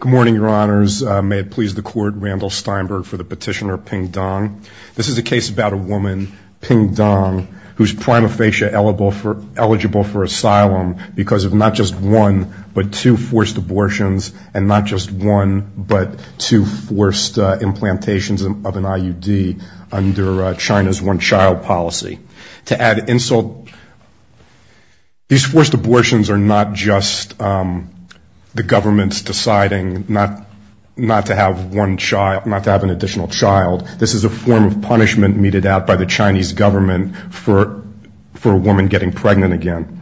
Good morning, Your Honors. May it please the Court, Randall Steinberg for the petitioner Ping Dong. This is a case about a woman, Ping Dong, who is prima facie eligible for asylum because of not just one, but two forced abortions and not just one, but two forced implantations of an IUD under China's one-child policy. To add insult, these forced abortions are not just the government's deciding not to have one child, not to have an additional child. This is a form of punishment meted out by the Chinese government for a woman getting pregnant again.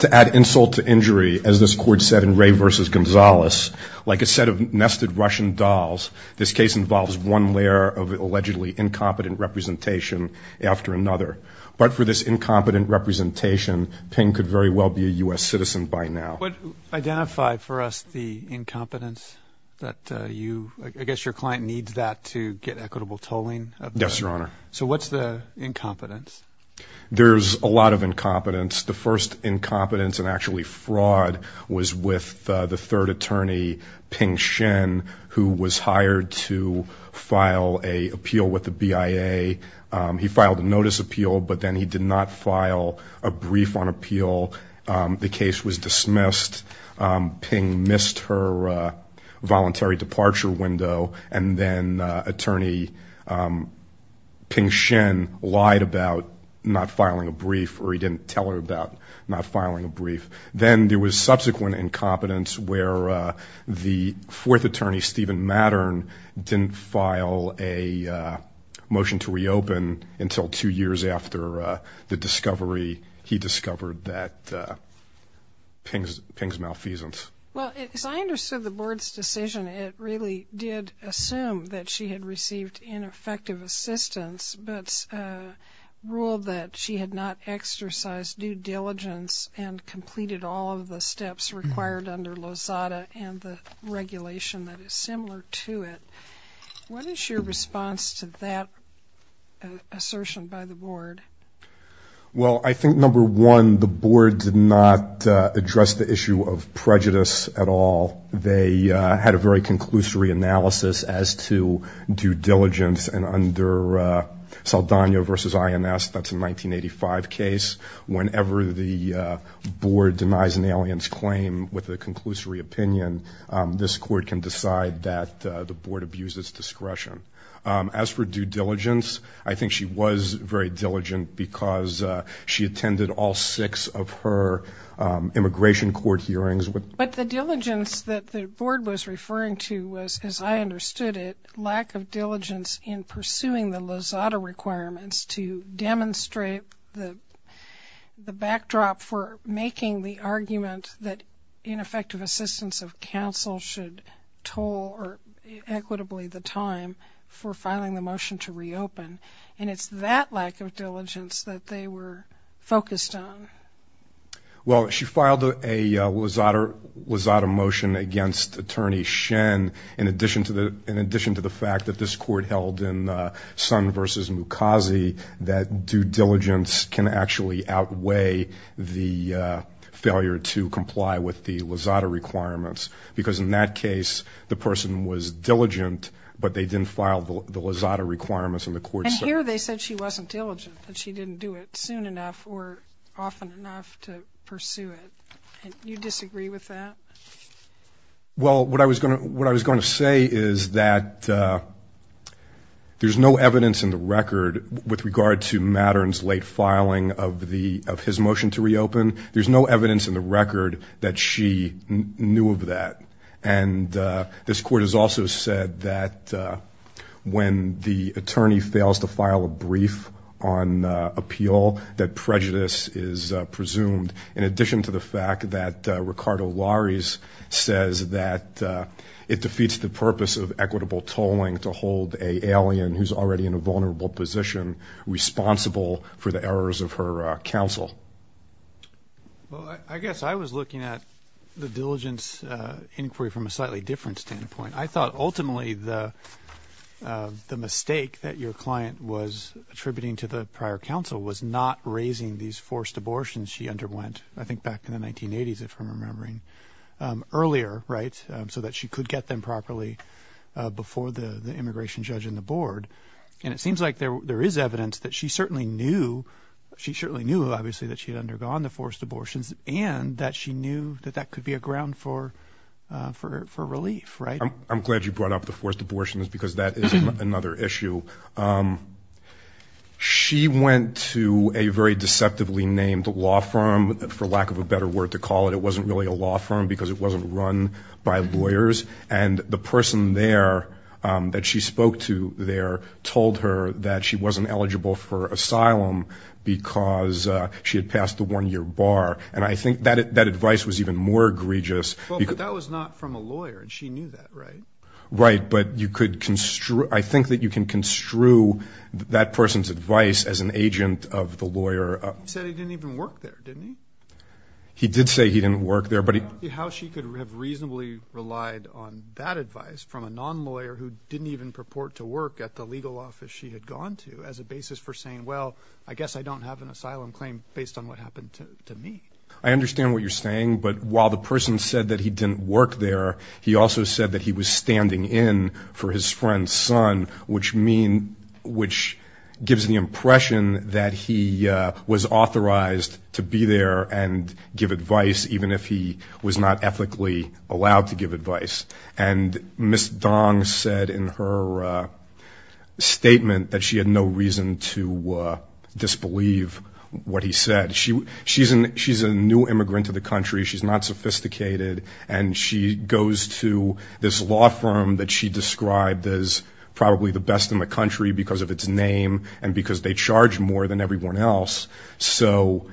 To add insult to injury, as this Court said in Ray v. Gonzalez, like a set of nested Russian dolls, this case involves one layer of allegedly incompetent representation after another. But for this incompetent representation, Ping could very well be a U.S. citizen by now. What identified for us the incompetence that you, I guess your client needs that to get equitable tolling? Yes, Your Honor. So what's the incompetence? There's a lot of incompetence. The first incompetence and actually fraud was with the third attorney, Ping Shen, who was hired to file an appeal with the BIA. He filed a notice appeal, but then he did not file a brief on appeal. The case was dismissed. Ping missed her voluntary departure window, and then attorney Ping Shen lied about not filing a brief, or he didn't The fourth attorney, Steven Mattern, didn't file a motion to reopen until two years after the discovery. He discovered that Ping's malfeasance. Well, as I understood the Board's decision, it really did assume that she had received ineffective assistance, but ruled that she had not exercised due diligence and completed all of the steps required under Lozada and the regulation that is similar to it. What is your response to that assertion by the Board? Well, I think number one, the Board did not address the issue of prejudice at all. They had a very conclusory analysis as to due diligence, and under Saldana v. INS, that's a 1985 case, whenever the Board denies an alien's claim with a conclusory opinion, this Court can decide that the Board abuses discretion. As for due diligence, I think she was very diligent because she attended all six of her immigration court hearings. But the diligence that the Board was referring to was, as I understood it, lack of diligence in pursuing the Lozada requirements to demonstrate the backdrop for making the argument that ineffective assistance of counsel should toll, or equitably, the time for filing the motion to reopen. And it's that lack of diligence that they were focused on. Well, she filed a Lozada motion against Attorney Shen in addition to the fact that this Court held in Sun v. Mukasey that due diligence can actually outweigh the failure to comply with the Lozada requirements. Because in that case, the person was diligent, but they didn't file the Lozada requirements, and the Court said... And here they said she wasn't diligent, that she didn't do it soon enough or often enough to pursue it. Do you disagree with that? Well, what I was going to say is that there's no evidence in the record with regard to Mattern's late filing of his motion to reopen. There's no evidence in the record that she knew of that. And this Court has also said that when the attorney fails to file a brief on appeal, that prejudice is presumed, in addition to the fact that Ricardo Lares says that it defeats the purpose of equitable tolling to hold an alien who's already in a vulnerable position responsible for the errors of her counsel. Well, I guess I was looking at the diligence inquiry from a slightly different standpoint. I thought, ultimately, the mistake that your client was attributing to the prior counsel was not raising these forced abortions she underwent, I think back in the 1980s, if I'm remembering, earlier, right? So that she could get them properly before the immigration judge and the board. And it seems like there is evidence that she certainly knew, obviously, that she had undergone the forced abortions and that she knew that that could be a ground for relief, right? I'm glad you brought up the forced abortions because that is another issue. She went to a very deceptively named law firm, for lack of a better word to call it. It wasn't really a law firm because it wasn't run by lawyers. And the person there that she spoke to there told her that she wasn't eligible for asylum because she had passed the one-year bar. And I think that advice was even more egregious. Well, but that was not from a lawyer and she knew that, right? Right, but I think that you can construe that person's advice as an agent of the lawyer. He said he didn't even work there, didn't he? He did say he didn't work there, but he... I don't see how she could have reasonably relied on that advice from a non-lawyer who didn't even purport to work at the legal office she had gone to as a basis for saying, well, I guess I don't have an asylum claim based on what happened to me. I understand what you're saying, but while the person said that he didn't work there, he also said that he was standing in for his friend's son, which gives the impression that he was authorized to be there and give advice even if he was not ethically allowed to give advice. And Ms. Dong said in her statement that she had no reason to disbelieve what he said. She's a new immigrant to the country, she's not sophisticated, and she goes to this law firm that she described as probably the best in the country because of its name and because they charge more than everyone else. So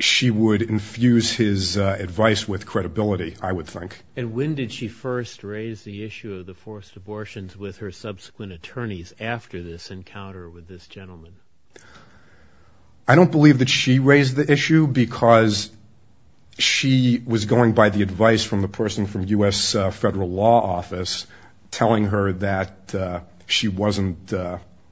she would infuse his advice with credibility, I would think. And when did she first raise the issue of the forced abortions with her subsequent attorneys after this encounter with this gentleman? I don't believe that she raised the issue because she was going by the advice from the person from U.S. Federal Law Office telling her that she wasn't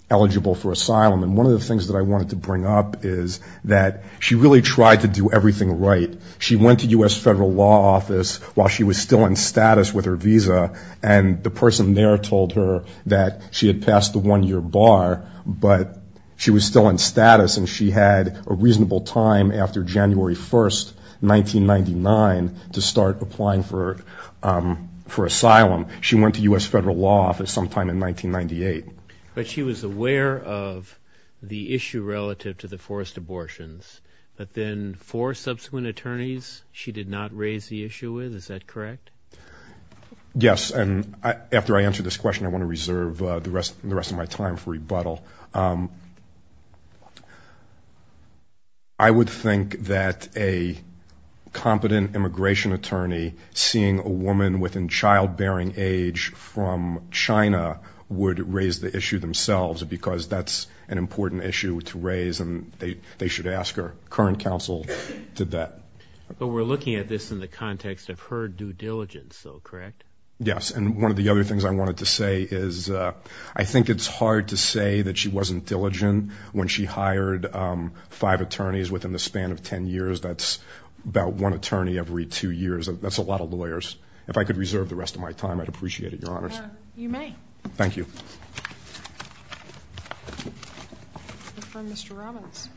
eligible for asylum. And one of the things that I wanted to bring up is that she really tried to do everything right. She went to U.S. Federal Law Office while she was still in status with her visa and the person there told her that she had passed the one-year bar, but she was still in status and she had a reasonable time after January 1st, 1999, to start applying for asylum. She went to U.S. Federal Law Office sometime in 1998. But she was aware of the issue relative to the forced abortions, but then four subsequent attorneys she did not raise the issue with, is that correct? Yes. And after I answer this question, I want to reserve the rest of my time for rebuttal. I would think that a competent immigration attorney seeing a woman within childbearing age from China would raise the issue themselves because that's an important issue to raise and they should ask her. Current counsel did that. But we're looking at this in the context of her due diligence though, correct? Yes. And one of the other things I wanted to say is I think it's hard to say that she wasn't diligent when she hired five attorneys within the span of ten years. That's about one attorney every two years. That's a lot of lawyers. If I could reserve the rest of my time, I'd appreciate it, Your Honors. You may. Thank you. Mr. Robbins.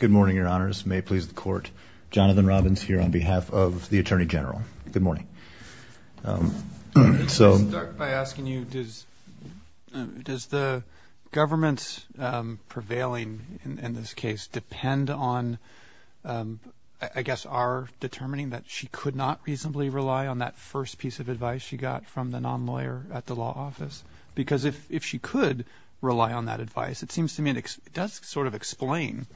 Good morning, Your Honors. May it please the Court. Jonathan Robbins here on behalf of the Attorney General. Good morning. I'd like to start by asking you, does the government's prevailing in this case depend on, I guess, our determining that she could not reasonably rely on that first piece of advice from the non-lawyer at the law office? Because if she could rely on that advice, it seems to me it does sort of explain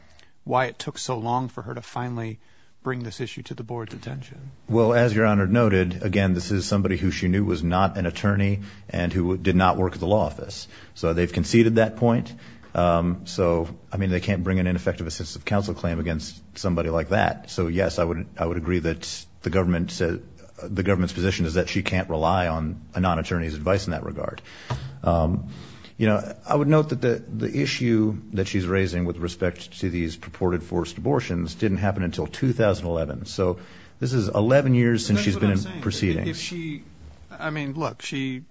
why it took so long for her to finally bring this issue to the Board's attention. Well, as Your Honor noted, again, this is somebody who she knew was not an attorney and who did not work at the law office. So they've conceded that point. So, I mean, they can't bring an ineffective assistive counsel claim against somebody like that. So, yes, I would agree that the government's position is that she can't rely on a non-attorney's advice in that regard. You know, I would note that the issue that she's raising with respect to these purported forced abortions didn't happen until 2011. So this is 11 years since she's been in proceedings. I mean, look, she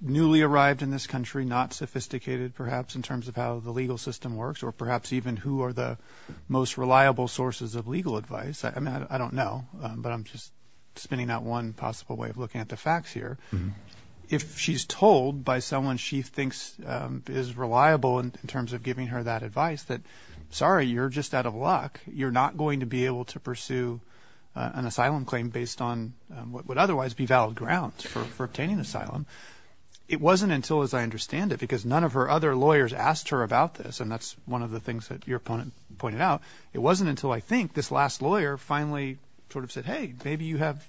newly arrived in this country, not sophisticated, perhaps, in terms of how the legal system works or perhaps even who are the most reliable sources of legal advice. I mean, I don't know, but I'm just spinning out one possible way of looking at the facts here. If she's told by someone she thinks is reliable in terms of giving her that advice that, sorry, you're just out of luck, you're not going to be able to pursue an asylum claim based on what would otherwise be valid grounds for obtaining asylum, it wasn't until, as I understand it, because none of her other lawyers asked her about this, and that's one of the things that your opponent pointed out, it wasn't until I think this last lawyer finally sort of said, hey, maybe you have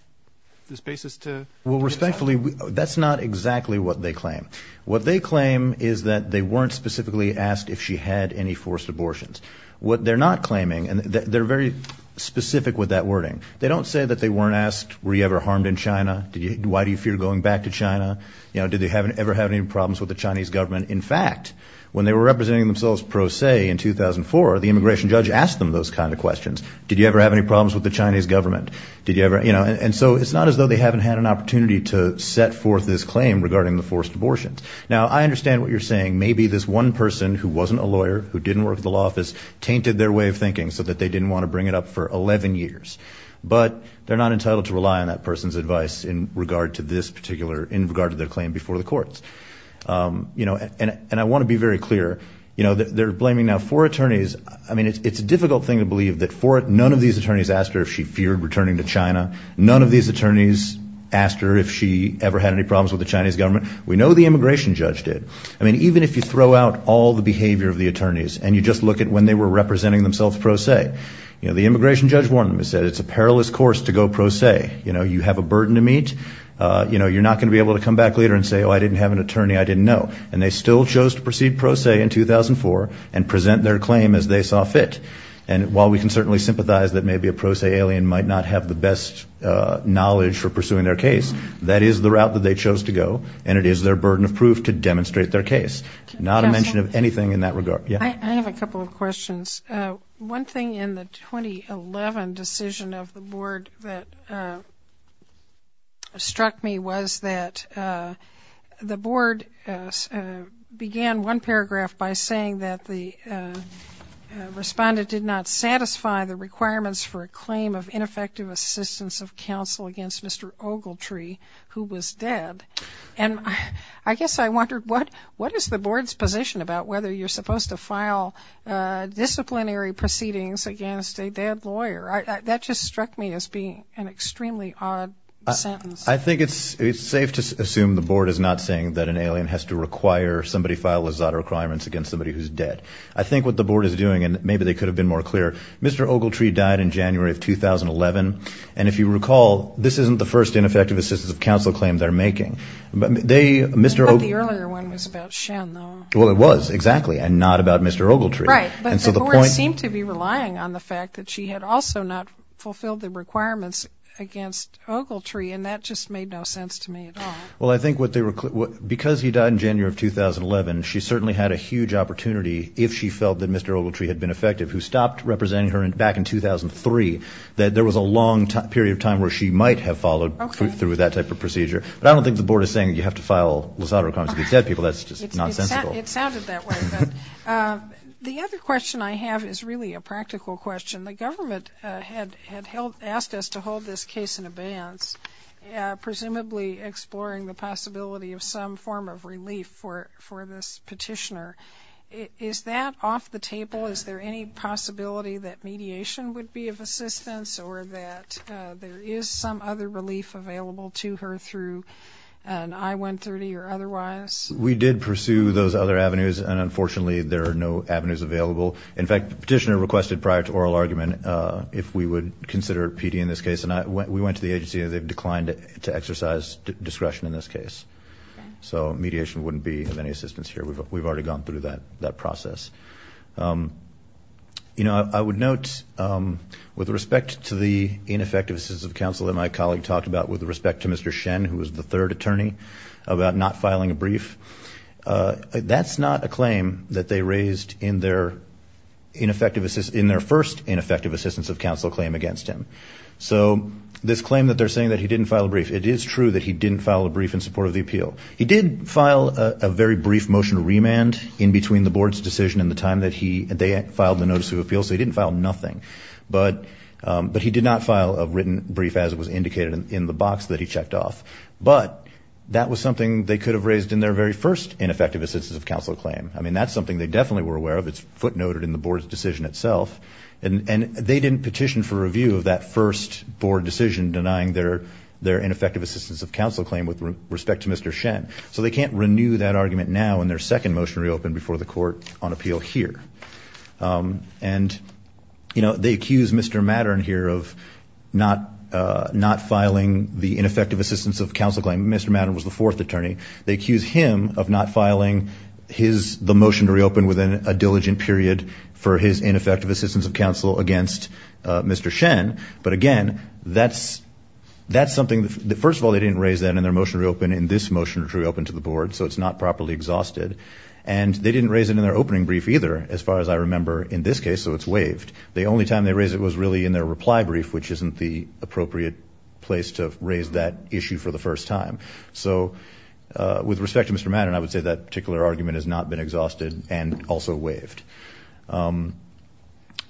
this basis to get asylum. Well, respectfully, that's not exactly what they claim. What they claim is that they weren't specifically asked if she had any forced abortions. What they're not claiming, and they're very specific with that wording, they don't say that they weren't asked, were you ever harmed in China? Why do you fear going back to China? You know, did they ever have any problems with the Chinese government? In fact, when they were representing themselves pro se in 2004, the immigration judge asked them those kind of questions. Did you ever have any problems with the Chinese government? Did you ever, you know, and so it's not as though they haven't had an opportunity to set forth this claim regarding the forced abortions. Now, I understand what you're saying. Maybe this one person who wasn't a lawyer, who didn't work at the law office, tainted their way of thinking so that they didn't want to bring it up for 11 years. But they're not entitled to rely on that person's advice in regard to this particular, in regard to their claim before the courts. You know, and I want to be very clear. You know, they're blaming now four attorneys. I mean, it's a difficult thing to believe that four, none of these attorneys asked her if she feared returning to China. None of these attorneys asked her if she ever had any problems with the Chinese government. We know the immigration judge did. I mean, even if you throw out all the behavior of the attorneys and you just look at when they were representing themselves pro se, you know, the immigration judge warned them. He said, it's a perilous course to go pro se. You know, you have a burden to meet. You know, you're not going to be able to come back later and say, oh, I didn't have an attorney, I didn't know. And they still chose to proceed pro se in 2004 and present their claim as they saw fit. And while we can certainly sympathize that maybe a pro se alien might not have the best knowledge for pursuing their case, that is the route that they chose to go and it is their burden of proof to demonstrate their case. Not a mention of anything in that regard. I have a couple of questions. One thing in the 2011 decision of the board that struck me was that the board began one paragraph by saying that the respondent did not satisfy the requirements for a claim of ineffective assistance of counsel against Mr. Ogletree, who was dead. And I guess I wondered what is the board's position about whether you're supposed to file disciplinary proceedings against a dead lawyer. That just struck me as being an extremely odd sentence. I think it's safe to assume the board is not saying that an alien has to require somebody file his requirements against somebody who's dead. I think what the board is doing, and maybe they could have been more clear, Mr. Ogletree died in January of 2011. And if you recall, this isn't the first ineffective assistance of counsel claim they're making. But the earlier one was about Shen, though. Well, it was, exactly, and not about Mr. Ogletree. Right, but the board seemed to be relying on the fact that she had also not fulfilled the requirements against Ogletree. And that just made no sense to me at all. Well, I think because he died in January of 2011, she certainly had a huge opportunity, if she felt that Mr. Ogletree had been effective, who stopped representing her back in 2003, that there was a long period of time where she might have followed through with that type of procedure. But I don't think the board is saying you have to file LASADA requirements against dead people. Well, that's just nonsensical. It sounded that way. The other question I have is really a practical question. The government had asked us to hold this case in abeyance, presumably exploring the possibility of some form of relief for this petitioner. Is that off the table? Is there any possibility that mediation would be of assistance or that there is some other relief available to her through an I-130 or otherwise? We did pursue those other avenues, and unfortunately, there are no avenues available. In fact, the petitioner requested prior to oral argument if we would consider PD in this case. And we went to the agency, and they've declined to exercise discretion in this case. So mediation wouldn't be of any assistance here. We've already gone through that process. You know, I would note, with respect to the ineffective assistance of counsel that my colleague talked about with respect to Mr. Shen, who was the third attorney, about not filing a brief, that's not a claim that they raised in their first ineffective assistance of counsel claim against him. So this claim that they're saying that he didn't file a brief, it is true that he didn't file a brief in support of the appeal. He did file a very brief motion to remand in between the board's decision and the time that they filed the notice of appeal, so he didn't file nothing. But he did not file a written brief as was indicated in the box that he checked off. But that was something they could have raised in their very first ineffective assistance of counsel claim. I mean, that's something they definitely were aware of. It's footnoted in the board's decision itself. And they didn't petition for review of that first board decision denying their ineffective assistance of counsel claim with respect to Mr. Shen. So they can't renew that argument now in their second motion reopened before the court on appeal here. And, you know, they accuse Mr. Mattern here of not filing the ineffective assistance of counsel claim. Mr. Mattern was the fourth attorney. They accuse him of not filing the motion to reopen within a diligent period for his ineffective assistance of counsel against Mr. Shen. But again, that's something. First of all, they didn't raise that in their motion to reopen, in this motion to reopen to the board, so it's not properly exhausted. And they didn't raise it in their opening brief either, as far as I remember, in this case, so it's waived. The only time they raised it was really in their reply brief, which isn't the appropriate place to raise that issue for the first time. So with respect to Mr. Mattern, I would say that particular argument has not been exhausted and also waived.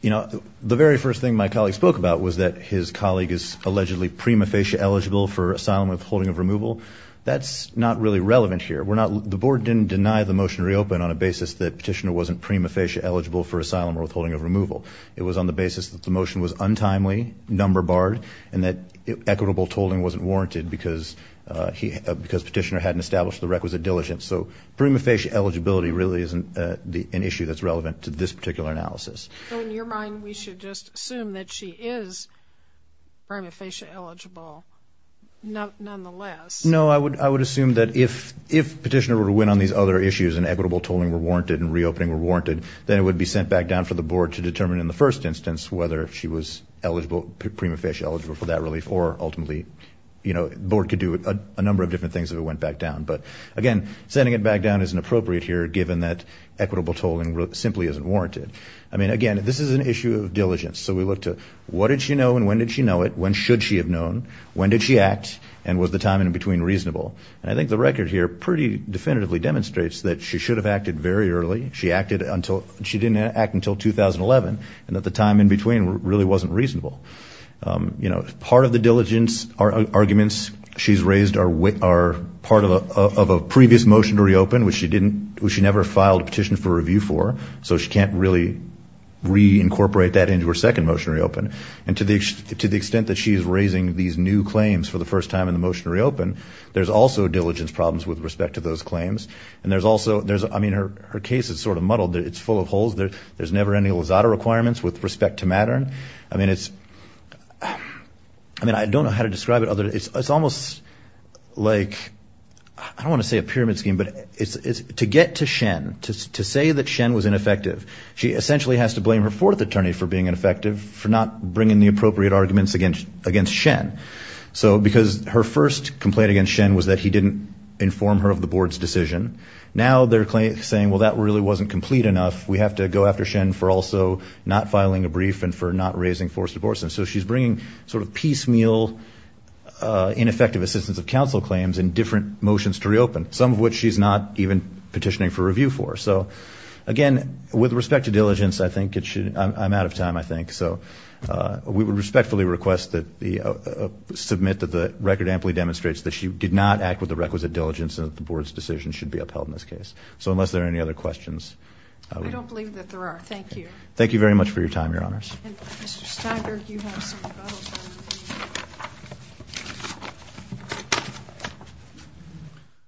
You know, the very first thing my colleague spoke about was that his colleague is allegedly prima facie eligible for asylum with holding of removal. That's not really relevant here. The board didn't deny the motion to reopen on a basis that petitioner wasn't prima facie eligible for asylum or withholding of removal. It was on the basis that the motion was untimely, number barred, and that equitable tolling wasn't warranted because petitioner hadn't established the requisite diligence. So prima facie eligibility really isn't an issue that's relevant to this particular analysis. So in your mind, we should just assume that she is prima facie eligible, nonetheless? No, I would assume that if petitioner were to win on these other issues and equitable tolling were warranted and reopening were warranted, then it would be sent back down for the board to determine in the first instance whether she was eligible, prima facie eligible for that relief or ultimately, you know, the board could do a number of different things if it went back down. But again, sending it back down isn't appropriate here given that equitable tolling simply isn't warranted. I mean, again, this is an issue of diligence. So we look to what did she know and when did she know it, when should she have known, when did she act, and was the time in between reasonable? And I think the record here pretty definitively demonstrates that she should have acted very early. She acted until, she didn't act until 2011 and that the time in between really wasn't reasonable. You know, part of the diligence arguments she's raised are part of a previous motion to reopen which she didn't, which she never filed a petition for review for so she can't really reincorporate that into her second motion to reopen. And to the extent that she's raising these new claims for the first time in the motion to reopen, there's also diligence problems with respect to those claims. And there's also, I mean, her case is sort of muddled. It's full of holes. There's never any lazada requirements with respect to Mattern. I mean, it's, I mean, I don't know how to describe it other, it's almost like, I don't want to say a pyramid scheme, but to get to Shen, to say that Shen was ineffective, she essentially has to blame her fourth attorney for being ineffective for not bringing the appropriate arguments against Shen. So because her first complaint against Shen was that he didn't inform her of the board's decision, now they're saying, well, that really wasn't complete enough. We have to go after Shen for also not filing a brief and for not raising forced divorces. So she's bringing sort of piecemeal ineffective assistance of counsel claims in different motions to reopen, some of which she's not even petitioning for review for. So, again, with respect to diligence, I think it should, I'm out of time, I think. So we would respectfully request that the, submit that the record amply demonstrates that she did not act with the requisite diligence and that the board's decision should be upheld in this case. So unless there are any other questions. I don't believe that there are. Thank you. Thank you very much for your time, Your Honors. Mr. Steinberg, you have some rebuttals.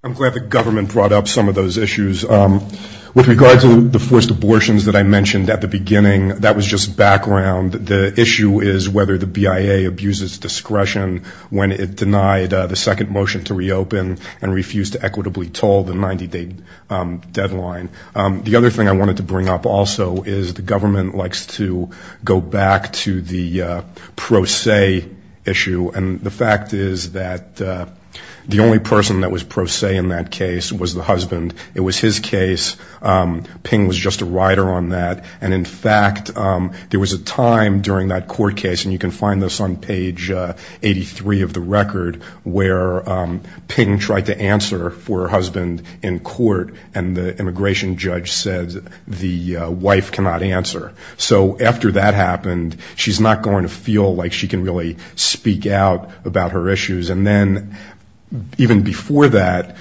I'm glad the government brought up some of those issues. With regard to the forced abortions that I mentioned at the beginning, that was just background. The issue is whether the BIA abuses discretion when it denied the second motion to reopen and refused to equitably toll the 90-day deadline. The other thing I wanted to bring up also is the government likes to go back to the pro se issue and the fact is that the only person that was pro se in that case was the husband. It was his case. Ping was just a rider on that. And in fact, there was a time during that court case, and you can find this on page 83 of the record, where Ping tried to answer for her husband in court and the immigration judge said the wife cannot answer. So after that happened, she's not going to feel like she can really speak out about her issues. And then even before that,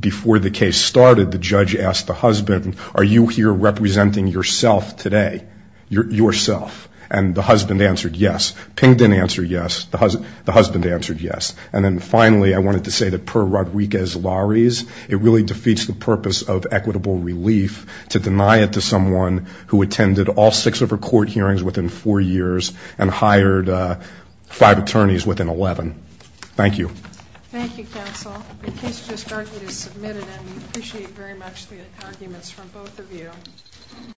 before the case started, the judge asked the husband, are you here representing yourself today? Yourself. And the husband answered yes. Ping didn't answer yes. The husband answered yes. And then finally, I wanted to say that per Rodriguez-Lawry's, it really defeats the purpose of equitable relief to deny it to someone who attended all six of her court hearings within four years and hired five attorneys within 11. Thank you. Thank you, counsel. The case just started, it's submitted, and we appreciate very much the arguments from both of you.